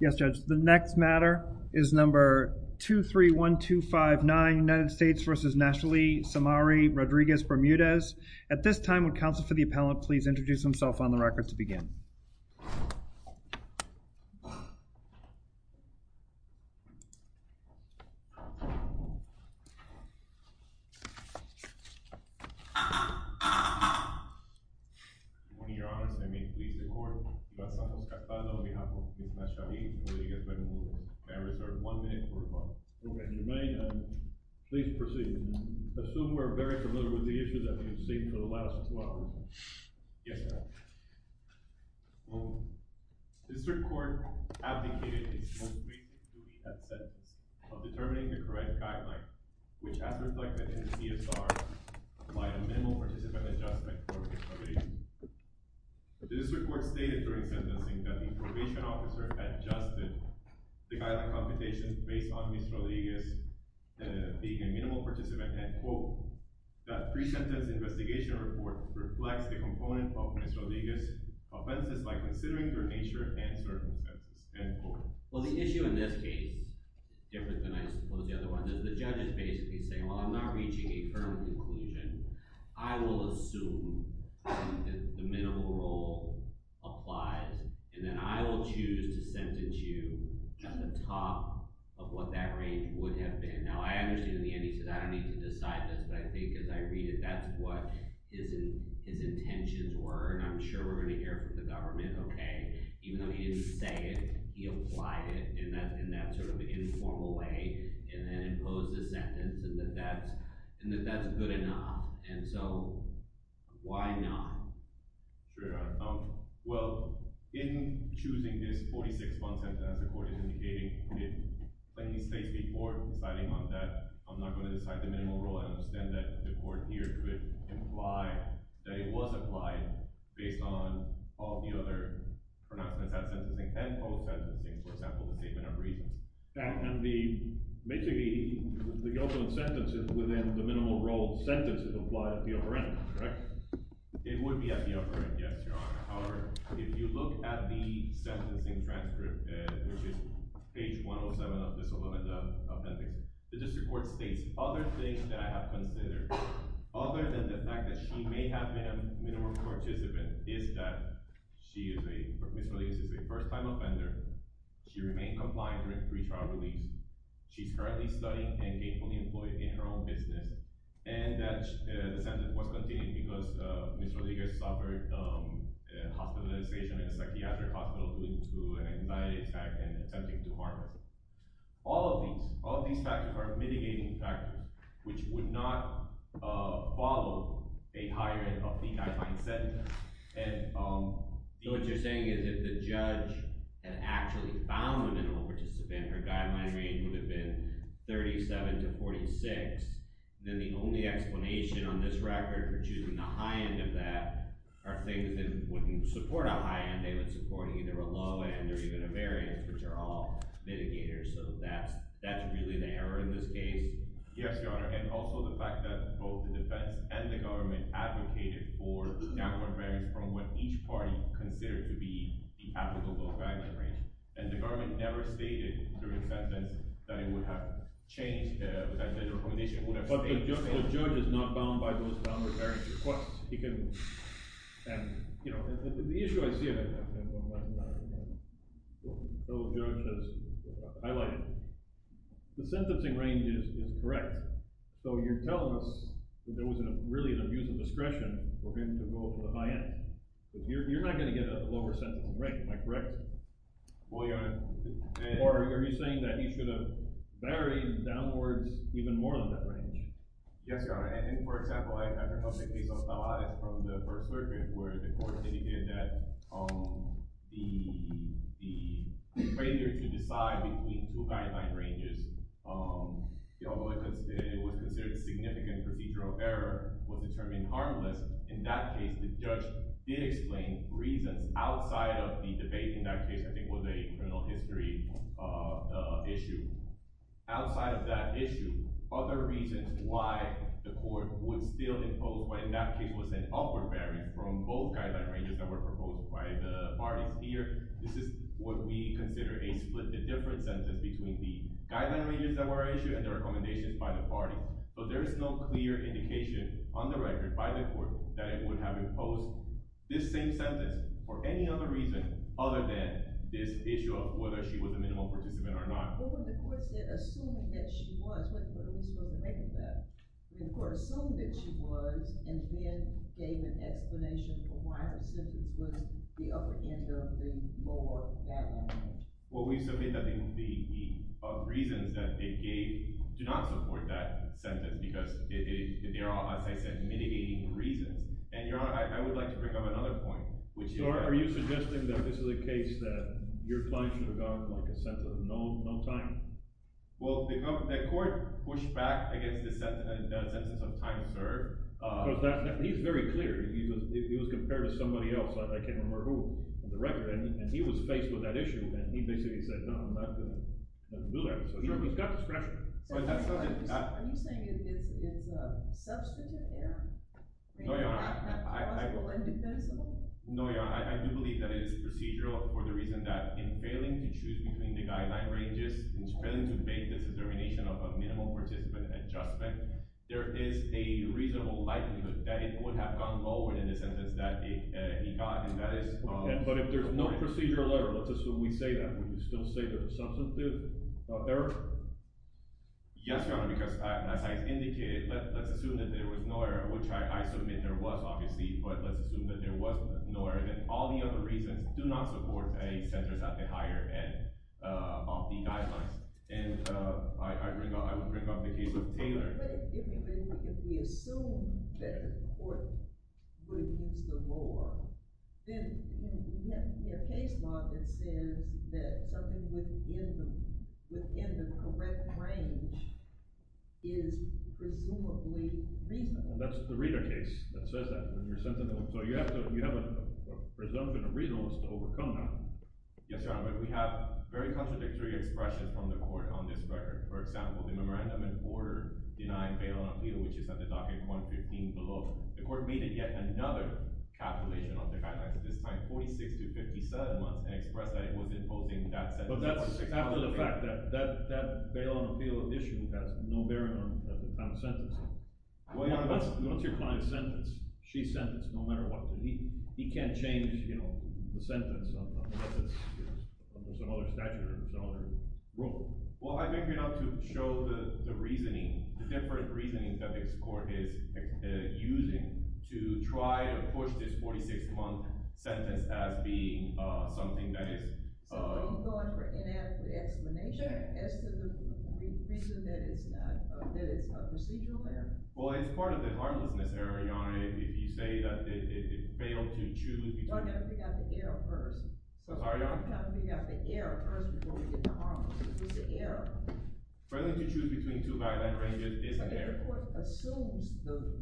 Yes, Judge. The next matter is number 231259, United States v. Naturally Samari-Rodriguez-Bermudez. At this time, would counsel for the appellant please introduce himself on the record to begin. On behalf of the United States v. Rodriguez-Bermudez, I reserve one minute for rebuttal. Okay, Jermaine, please proceed. I assume we're very familiar with the issue that we've seen for the last two hours. Yes, Your Honor. The district court advocated its most basic duty at sentence of determining the correct guideline, which as reflected in the CSR, by a minimal participant adjustment for Mr. Rodriguez. The district court stated during sentencing that the probation officer adjusted the guideline computation based on Mr. Rodriguez being a minimal participant and, quote, the pre-sentence investigation report reflects the component of Mr. Rodriguez's offenses by considering their nature and circumstances, end quote. Well, the issue in this case is different than, I suppose, the other one. The judge is basically saying, well, I'm not reaching a firm conclusion. I will assume that the minimal role applies, and then I will choose to sentence you at the top of what that rate would have been. Now, I understand in the end he said, I don't need to decide this, but I think as I read it, that's what his intentions were, and I'm sure we're going to hear from the government, okay, even though he didn't say it, he applied it in that sort of informal way, and then imposed a sentence, and that that's good enough. And so, why not? Sure. Well, in choosing this 46-month sentence, as the court is indicating, it plainly states before deciding on that, I'm not going to decide the minimal role. I understand that the court here could imply that it was applied based on all the other pronouncements at sentencing and post-sentencing, for example, the statement of reasons. And basically, the guilt on sentence is within the minimal role sentence is applied at the upper end, correct? It would be at the upper end, yes, Your Honor. However, if you look at the sentencing transcript, which is page 107 of this amendment of appendix, the district court states, other things that I have considered, other than the fact that she may have been a minimal participant, is that Ms. Rodriguez is a first-time offender, she remained compliant during pre-trial release, she's currently studying and gainfully employed in her own business, and that the sentence was continued because Ms. Rodriguez suffered hospitalization in a psychiatric hospital due to an anxiety attack and attempting to harm herself. All of these factors are mitigating factors, which would not follow a higher end of the guideline sentence. So what you're saying is if the judge had actually found a minimal participant, her guideline range would have been 37 to 46, then the only explanation on this record for choosing a high end of that are things that wouldn't support a high end, they would support either a low end or even a variance, which are all mitigators, so that's really the error in this case? Yes, Your Honor, and also the fact that both the defense and the government advocated for downward variance from what each party considered to be the applicable guideline range, and the government never stated during the sentence that it would have changed, that the recommendation would have stayed the same. Okay, so the judge is not bound by those downward variance requests. He can – and, you know, the issue I see, though, as the judge has highlighted, the sentencing range is correct, so you're telling us that there wasn't really an abuse of discretion for him to go for the high end. You're not going to get a lower sentencing range, am I correct? Well, Your Honor, the – Or are you saying that he should have varied downwards even more than that range? Yes, Your Honor, and for example, I heard a case on Stavarides from the First Circuit where the court indicated that the failure to decide between two guideline ranges, although it was considered a significant procedural error, was determined harmless. In that case, the judge did explain reasons outside of the debate in that case I think was a criminal history issue. Outside of that issue, other reasons why the court would still impose what in that case was an upward variance from both guideline ranges that were proposed by the parties here, this is what we consider a split – a different sentence between the guideline ranges that were issued and the recommendations by the parties. So there is no clear indication on the record by the court that it would have imposed this same sentence for any other reason other than this issue of whether she was a minimal participant or not. But when the court said assuming that she was, what were we supposed to make of that? The court assumed that she was and then gave an explanation for why her sentence was the upper end of the lower guideline range. Well, we submit that the reasons that it gave do not support that sentence because they are, as I said, mitigating reasons. And, Your Honor, I would like to bring up another point, which is – Are you suggesting that this is a case that your client should have gotten a sentence of no time? Well, the court pushed back against the sentence of no time, sir. He's very clear. He was compared to somebody else. I can't remember who on the record. And he was faced with that issue, and he basically said, no, I'm not going to do that. So he's got discretion. So are you saying it's a substantive error? No, Your Honor. Is that possible and defensible? No, Your Honor. I do believe that it is procedural for the reason that in failing to choose between the guideline ranges, in failing to make the determination of a minimal participant adjustment, there is a reasonable likelihood that it would have gone lower than the sentence that he got. But if there's no procedural error, let's assume we say that, would you still say there's a substantive error? Yes, Your Honor, because as I indicated, let's assume that there was no error, which I submit there was obviously, but let's assume that there was no error and that all the other reasons do not support a sentence at the higher end of the guidelines. And I would bring up the case of Taylor. But if we assume that the court would use the law, then we have to be a case law that says that something within the correct range is presumably reasonable. That's the reader case that says that. So you have a presumption of reasonableness to overcome that. Yes, Your Honor, but we have very contradictory expressions on the court on this record. For example, the memorandum in order denying bail on appeal, which is at the docket 115 below, the court made it yet another calculation on the guidelines at this time, 46 to 57 months, and expressed that it was imposing that sentence. But that's after the fact that that bail on appeal addition has no bearing on the time of sentencing. Once your client's sentenced, she's sentenced no matter what. He can't change the sentence unless there's another statute or there's another rule. Well, I think we ought to show the reasoning, the different reasoning that this court is using to try to push this 46-month sentence as being something that is. So are you going for inadequate explanation as to the reason that it's not, that it's a procedural error? Well, it's part of the harmlessness error, Your Honor, if you say that it failed to choose between. I'm going to have to figure out the error first. I'm sorry, Your Honor? I'm going to have to figure out the error first before we get to the harmlessness. What's the error? Failing to choose between two guideline ranges is an error. But if the court assumes the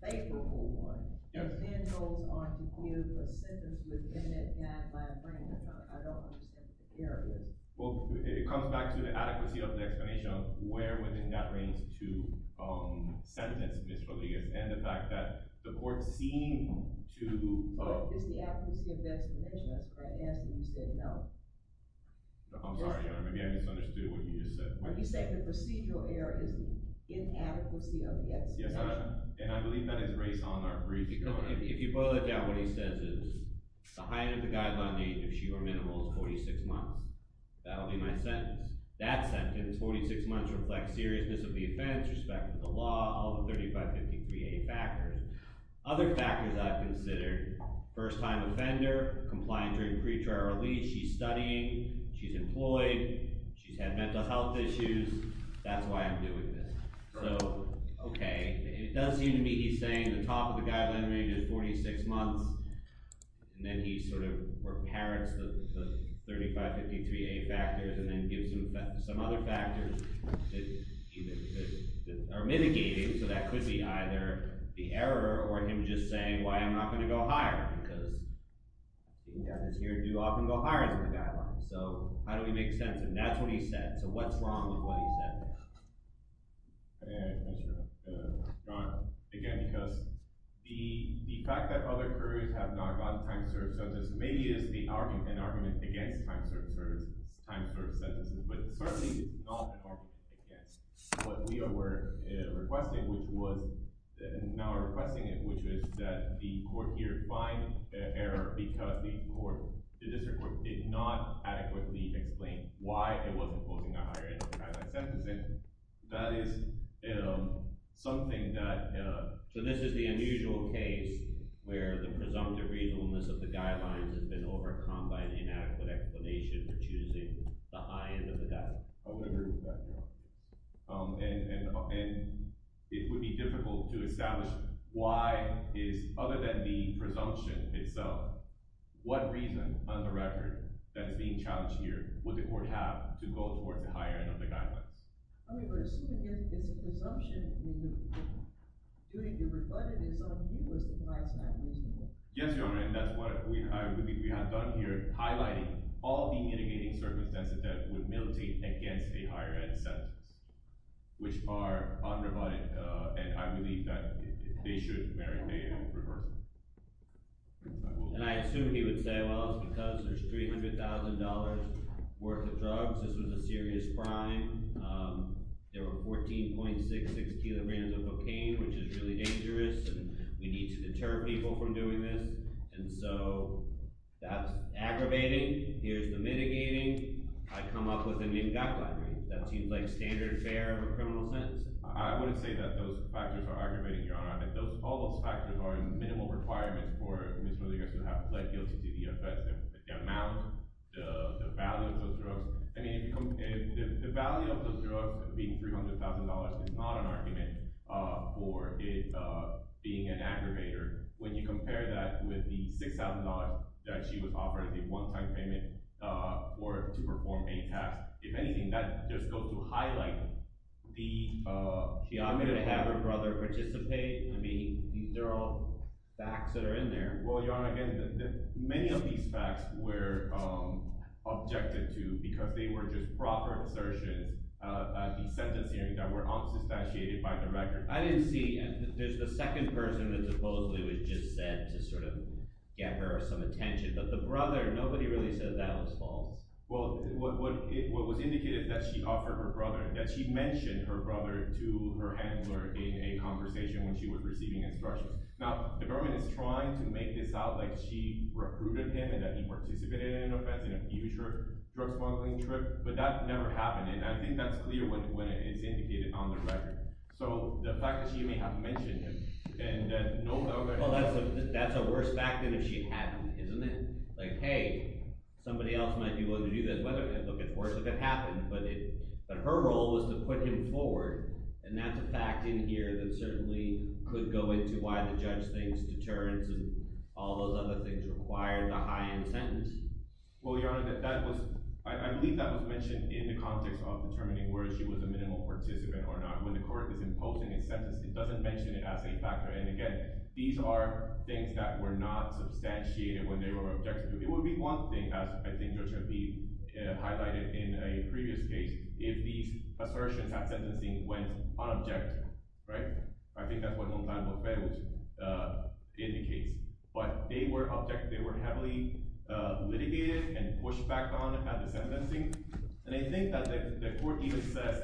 favorable one and then goes on to give a sentence within that guideline range, I don't understand what the error is. Well, it comes back to the adequacy of the explanation of where within that range to sentence Ms. Rodriguez and the fact that the court seemed to— Is the adequacy of the explanation, that's what I asked, and you said no. I'm sorry, Your Honor. Maybe I misunderstood what you just said. You said the procedural error is the inadequacy of the explanation. Yes, and I believe that is raised on our brief. If you boil it down, what he says is the height of the guideline range, if she were minimal, is 46 months. That will be my sentence. That sentence, 46 months, reflects seriousness of the offense, respect to the law, all the 3553A factors. Other factors I've considered, first-time offender, compliant during pretrial release, she's studying, she's employed, she's had mental health issues. That's why I'm doing this. So, okay, it does seem to me he's saying the top of the guideline range is 46 months, and then he sort of repairs the 3553A factors and then gives them some other factors that are mitigating, so that could be either the error or him just saying why I'm not going to go higher because the offenders here do often go higher than the guidelines. So, how do we make sense of that? That's what he said. So what's wrong with what he said? Again, because the fact that other couriers have not gotten time-served sentences maybe is an argument against time-served sentences, but certainly it's not an argument against. What we were requesting, which was—now we're requesting it, which was that the court here find error because the court, the district court, did not adequately explain why it wasn't holding a higher end of the guideline sentencing. That is something that— So this is the unusual case where the presumptive reasonableness of the guidelines has been overcome by the inadequate explanation for choosing the high end of the guideline. I would agree with that, Your Honor. And it would be difficult to establish why is, other than the presumption itself, what reason on the record that is being challenged here would the court have to go towards a higher end of the guidelines? I mean, we're assuming it's a presumption. The duty to reflect it is on you as the client's time reasonable. Yes, Your Honor. And that's what I believe we have done here, highlighting all the mitigating circumstances that would militate against a higher end sentence, which are unrebutted, and I believe that they should merit a reversal. And I assume he would say, well, it's because there's $300,000 worth of drugs. This was a serious crime. There were 14.66 kilograms of cocaine, which is really dangerous, and we need to deter people from doing this. And so that's aggravating. Here's the mitigating. I come up with a new guideline. That seems like standard fare of a criminal sentence. I wouldn't say that those factors are aggravating, Your Honor. I think all those factors are minimal requirements for Ms. Rodriguez to have led guilty to the offense. The amount, the value of those drugs. I mean, the value of those drugs being $300,000 is not an argument for it being an aggravator. When you compare that with the $6,000 that she was offered as a one-time payment or to perform a task, if anything, that just goes to highlight the— I'm going to have her brother participate. I mean, these are all facts that are in there. Well, Your Honor, again, many of these facts were objected to because they were just proper assertions at the sentence hearing that were unsubstantiated by the record. I didn't see—there's the second person that supposedly was just sent to sort of get her some attention. But the brother, nobody really said that was false. Well, what was indicated is that she offered her brother, that she mentioned her brother to her handler in a conversation when she was receiving instructions. Now, the government is trying to make this out like she recruited him and that he participated in an offense in a future drug smuggling trip, but that never happened. And I think that's clear when it's indicated on the record. So the fact that she may have mentioned him and no other— Well, that's a worse fact than if she hadn't, isn't it? Like, hey, somebody else might be willing to do that. Look, it's worse if it happened, but her role was to put him forward, and that's a fact in here that certainly could go into why the judge thinks deterrence and all those other things required the high-end sentence. Well, Your Honor, that was—I believe that was mentioned in the context of determining whether she was a minimal participant or not. When the court is imposing a sentence, it doesn't mention it as a factor. And again, these are things that were not substantiated when they were objected to. It would be one thing, as I think Your Honor, to be highlighted in a previous case, if these assertions at sentencing went unobjective, right? I think that's what Montalvo-Fergus indicates. But they were heavily litigated and pushed back on at the sentencing. And I think that the court even says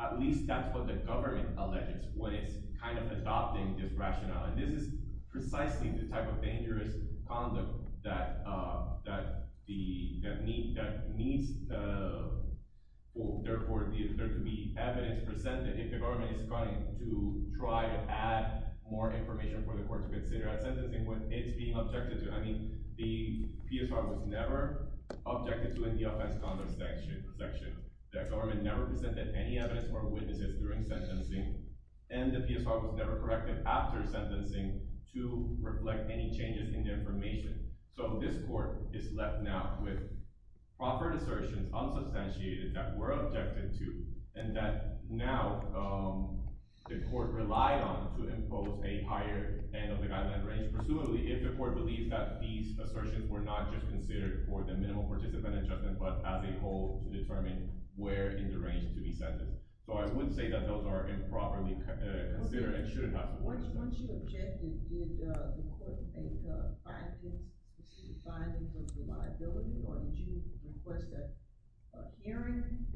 at least that's what the government alleges when it's kind of adopting this rationale. And this is precisely the type of dangerous conduct that needs, therefore, there to be evidence presented if the government is going to try to add more information for the court to consider at sentencing when it's being objected to. I mean, the PSR was never objected to in the offense-conduct section. The government never presented any evidence or witnesses during sentencing. And the PSR was never corrected after sentencing to reflect any changes in the information. So this court is left now with proper assertions, unsubstantiated, that were objected to and that now the court relied on to impose a higher end of the guideline range. Presumably, if the court believes that these assertions were not just considered for the minimal participant adjustment but as a whole to determine where in the range to be sentenced. So I wouldn't say that those are improperly considered and shouldn't have to work together. Once you objected, did the court make findings? Was it a finding of reliability? Or did you request a hearing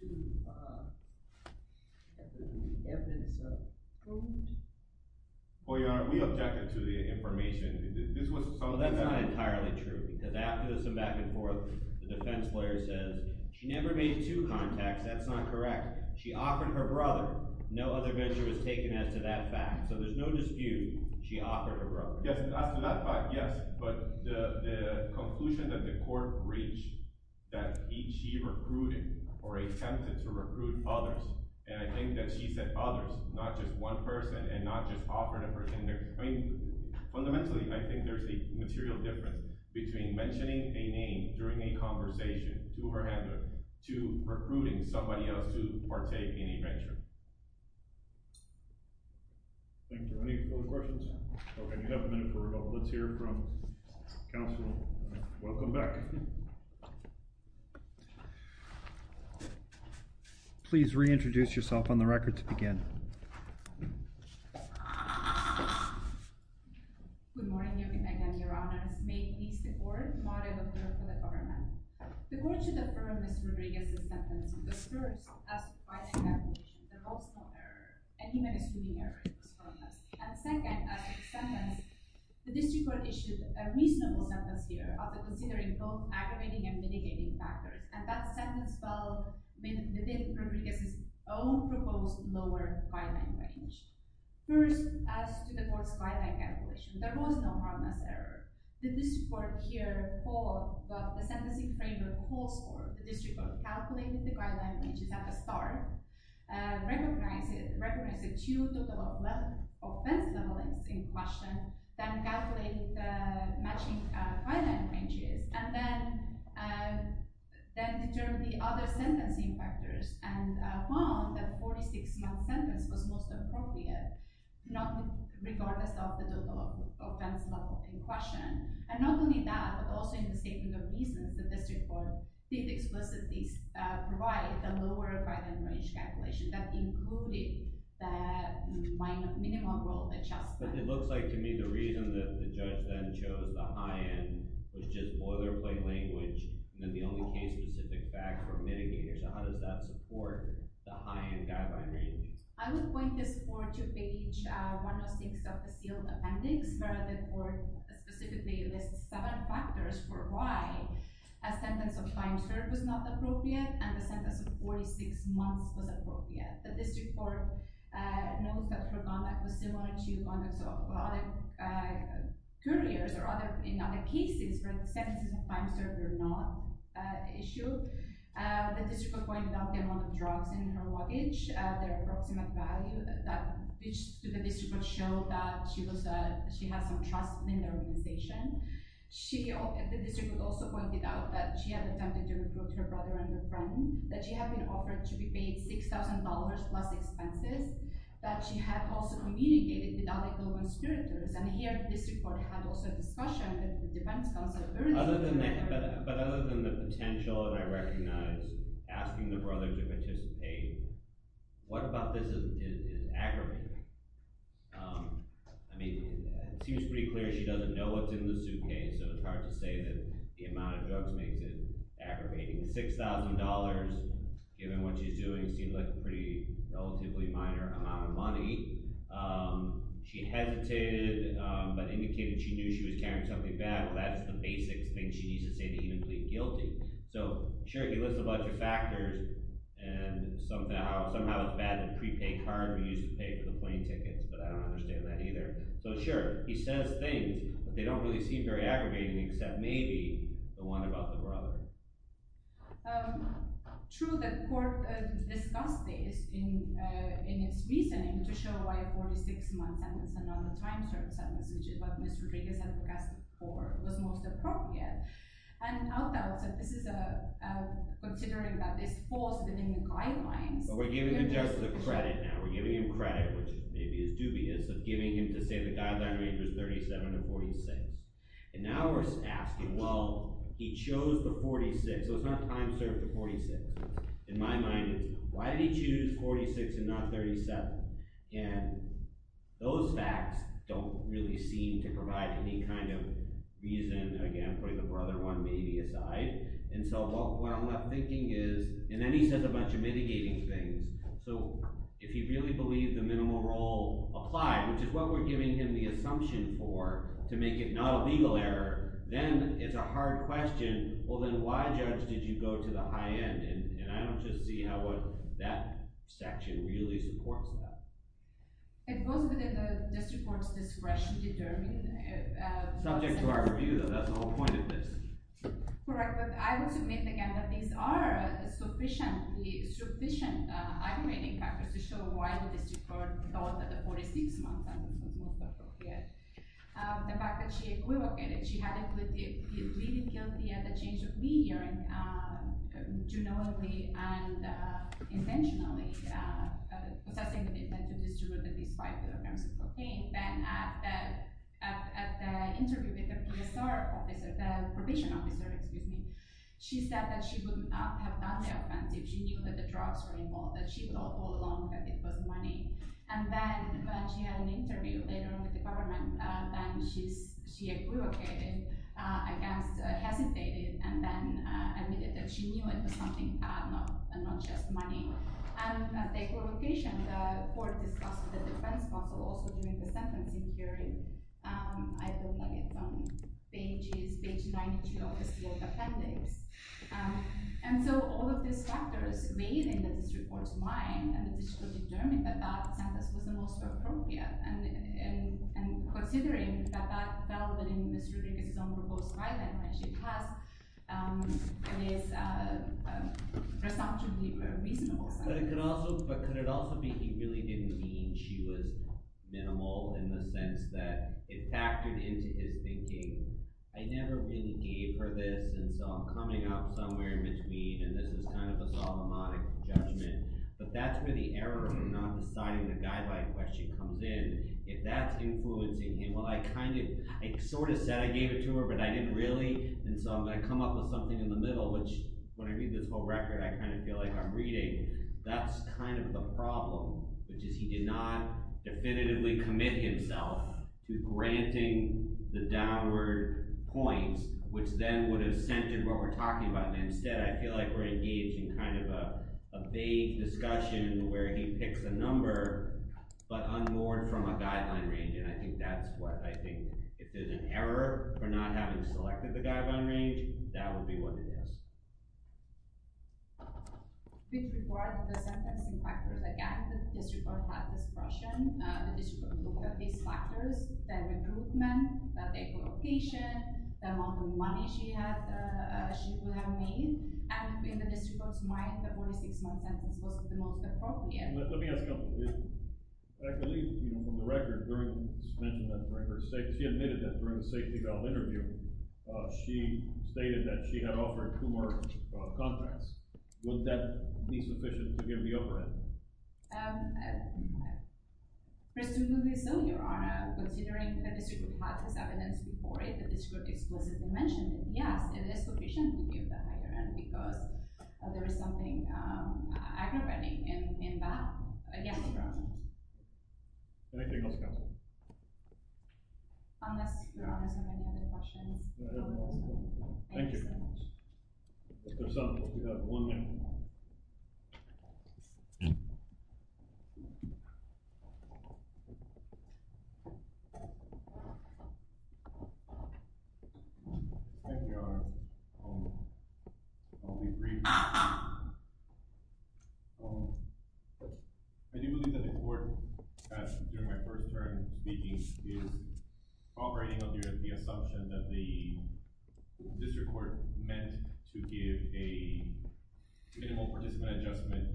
to have the evidence approved? Well, Your Honor, we objected to the information. This was something that… Well, that's not entirely true because after this and back and forth, the defense lawyer says she never made two contacts. That's not correct. She offered her brother. No other measure was taken as to that fact. So there's no dispute. She offered her brother. Yes, as to that fact, yes. But the conclusion that the court reached that she recruited or attempted to recruit others, and I think that she said others, not just one person and not just offering a person. Fundamentally, I think there's a material difference between mentioning a name during a conversation to her handler to recruiting somebody else to partake in a venture. Thank you. Any further questions? Okay, we have a minute for a couple. Let's hear from counsel. Welcome back. Please reintroduce yourself on the record to begin. Good morning, Your Honor. May it please the court, I'm Mariela Pereira for the government. The court should affirm Mr. Rodriguez's sentence because first, as provided in the application, there was no error. And second, the district court issued a reasonable sentence here after considering both aggravating and mitigating factors. And that sentence fell within Rodriguez's own proposed lower guideline range. First, as to the court's guideline calculation, there was no harmless error. The district court here, the sentencing framework calls for the district court to calculate the guideline ranges at the start, recognize the two total offense levelings in question, then calculate the matching guideline ranges, and then determine the other sentencing factors, and found that a 46-month sentence was most appropriate, regardless of the total offense level in question. And not only that, but also in the statement of reasons, the district court did explicitly provide a lower guideline range calculation that included the minimum rule adjustment. But it looks like, to me, the reason that the judge then chose the high-end was just boilerplate language, and then the only case-specific fact were mitigators. How does that support the high-end guideline range? I would point this court to page 106 of the sealed appendix, where the court specifically lists seven factors for why a sentence of time served was not appropriate and a sentence of 46 months was appropriate. The district court notes that her conduct was similar to conducts of other couriers or in other cases where the sentences of time served were not issued. The district court pointed out the amount of drugs in her luggage, their approximate value, which the district court showed that she had some trust in the organization. The district court also pointed out that she had attempted to recruit her brother and a friend, that she had been offered to be paid $6,000 plus expenses, that she had also communicated with other conspirators. And here, the district court had also a discussion with the defense counsel. But other than the potential, and I recognize asking the brother to participate, what about this is aggravating? I mean, it seems pretty clear she doesn't know what's in the suitcase, so it's hard to say that the amount of drugs makes it aggravating. $6,000, given what she's doing, seems like a pretty relatively minor amount of money. She hesitated, but indicated she knew she was carrying something bad. Well, that's the basic thing she needs to say to even plead guilty. So, sure, he lists a bunch of factors, and somehow it's bad, the prepaid card we used to pay for the plane tickets, but I don't understand that either. So, sure, he says things, but they don't really seem very aggravating, except maybe the one about the brother. True, the court discussed this in its reasoning to show why a 46-month sentence and not a time served sentence, which is what Ms. Rodriguez had forecasted for, was most appropriate. And I'll doubt that this is considering that this falls within the guidelines. But we're giving him just the credit now. We're giving him credit, which maybe is dubious, of giving him to say the guideline range was 37 to 46. And now we're asking, well, he chose the 46, so it's not time served to 46. In my mind, why did he choose 46 and not 37? And those facts don't really seem to provide any kind of reason, again, putting the brother one maybe aside. And so what I'm thinking is – and then he says a bunch of mitigating things. So if you really believe the minimal role applied, which is what we're giving him the assumption for, to make it not a legal error, then it's a hard question. Well, then why, Judge, did you go to the high end? And I don't just see how that section really supports that. It goes within the district court's discretion to determine. Subject to our review, though, that's the whole point of this. Correct, but I would submit, again, that these are sufficient aggravating factors to show why the district court thought that the 46-month sentence was most appropriate. The fact that she equivocated, she had him pleaded guilty at the change of media, genuinely and intentionally, possessing the intent to distribute at least five kilograms of cocaine. Then at the interview with the PSR officer, the probation officer, excuse me, she said that she would not have done the offensive. She knew that the drugs were involved, that she thought all along that it was money. And then when she had an interview later on with the government, then she equivocated against, hesitated, and then admitted that she knew it was something, not just money. And the equivocation, the court discussed with the defense counsel also during the sentencing hearing. I don't have it on pages, page 92 of the sealed appendix. And so all of these factors weighed in the district court's mind, and the district court determined that that sentence was the most appropriate. And considering that that fell within the district's own proposed guidelines when she passed, it is presumptively very reasonable. But could it also be he really didn't mean she was minimal in the sense that it factored into his thinking, I never really gave her this, and so I'm coming up somewhere in between, and this is kind of a Solomonic judgment. But that's where the error of not deciding the guideline question comes in. If that's influencing him, well, I kind of – I sort of said I gave it to her, but I didn't really, and so I'm going to come up with something in the middle, which when I read this whole record, I kind of feel like I'm reading. That's kind of the problem, which is he did not definitively commit himself to granting the downward points, which then would have centered what we're talking about, and instead I feel like we're engaged in kind of a vague discussion where he picks a number but unborn from a guideline range, and I think that's what – if there's an error for not having selected the guideline range, that would be what it is. With regard to the sentencing factors, again, the district court had discretion. The district court looked at these factors, the recruitment, the date of location, the amount of money she would have made, and in the district court's mind, the 46-month sentence was the most appropriate. Let me ask a couple. I believe from the record, she admitted that during the safety valve interview, she stated that she had offered two more contracts. Would that be sufficient to give the overhead? Presumably so, Your Honor. Considering that the district court had this evidence before it, the district court explicitly mentioned that yes, it is sufficient to give the higher end because there is something aggravating in that. Yes, Your Honor. Anything else, counsel? Unless Your Honor has any other questions. No, Your Honor. Thank you. Mr. Soto, you have one minute. Thank you, Your Honor. I'll be brief. I do believe that the court, during my first term speaking, is operating under the assumption that the district court meant to give a minimal participant adjustment,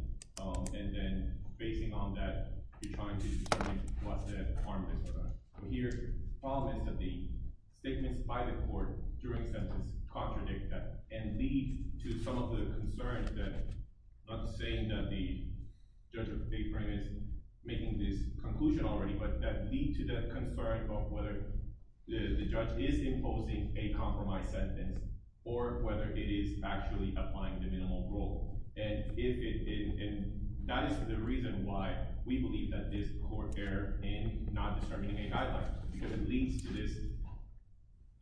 and then, basing on that, you're trying to determine what the harm is or not. Here, the problem is that the statements by the court during the sentence contradict that and lead to some of the concerns that, not saying that the judge of the day frame is making this conclusion already, but that lead to the concern of whether the judge is imposing a compromise sentence or whether it is actually applying the minimal rule. And that is the reason why we believe that this court erred in not determining a guideline, because it leads to this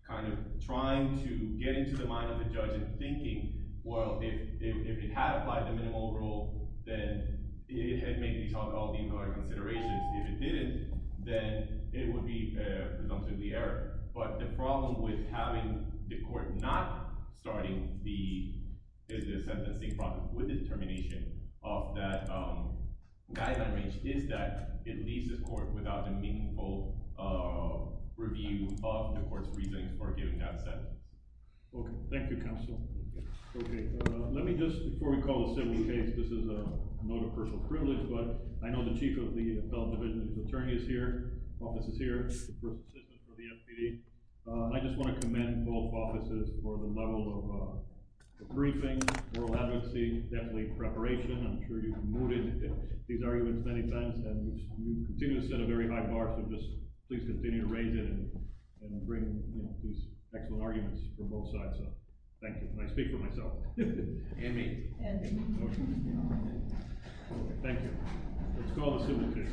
kind of trying to get into the mind of the judge and thinking, well, if it had applied the minimal rule, then it had made me talk all the other considerations. If it didn't, then it would be presumptively error. But the problem with having the court not starting the sentencing process with determination of that guideline range is that it leaves the court without a meaningful review of the court's reasoning for giving that sentence. Okay. Thank you, counsel. Okay. Let me just, before we call a civil case, this is a note of personal privilege, but I know the chief of the appellate division's attorney is here, office is here, the first assistant for the SPD. I just want to commend both offices for the level of briefing, oral advocacy, definitely preparation. I'm sure you've noted these arguments many times, and you continue to set a very high bar, so just please continue to raise it and bring these excellent arguments from both sides. So thank you. And I speak for myself. And me. Thank you. Let's call the civil case.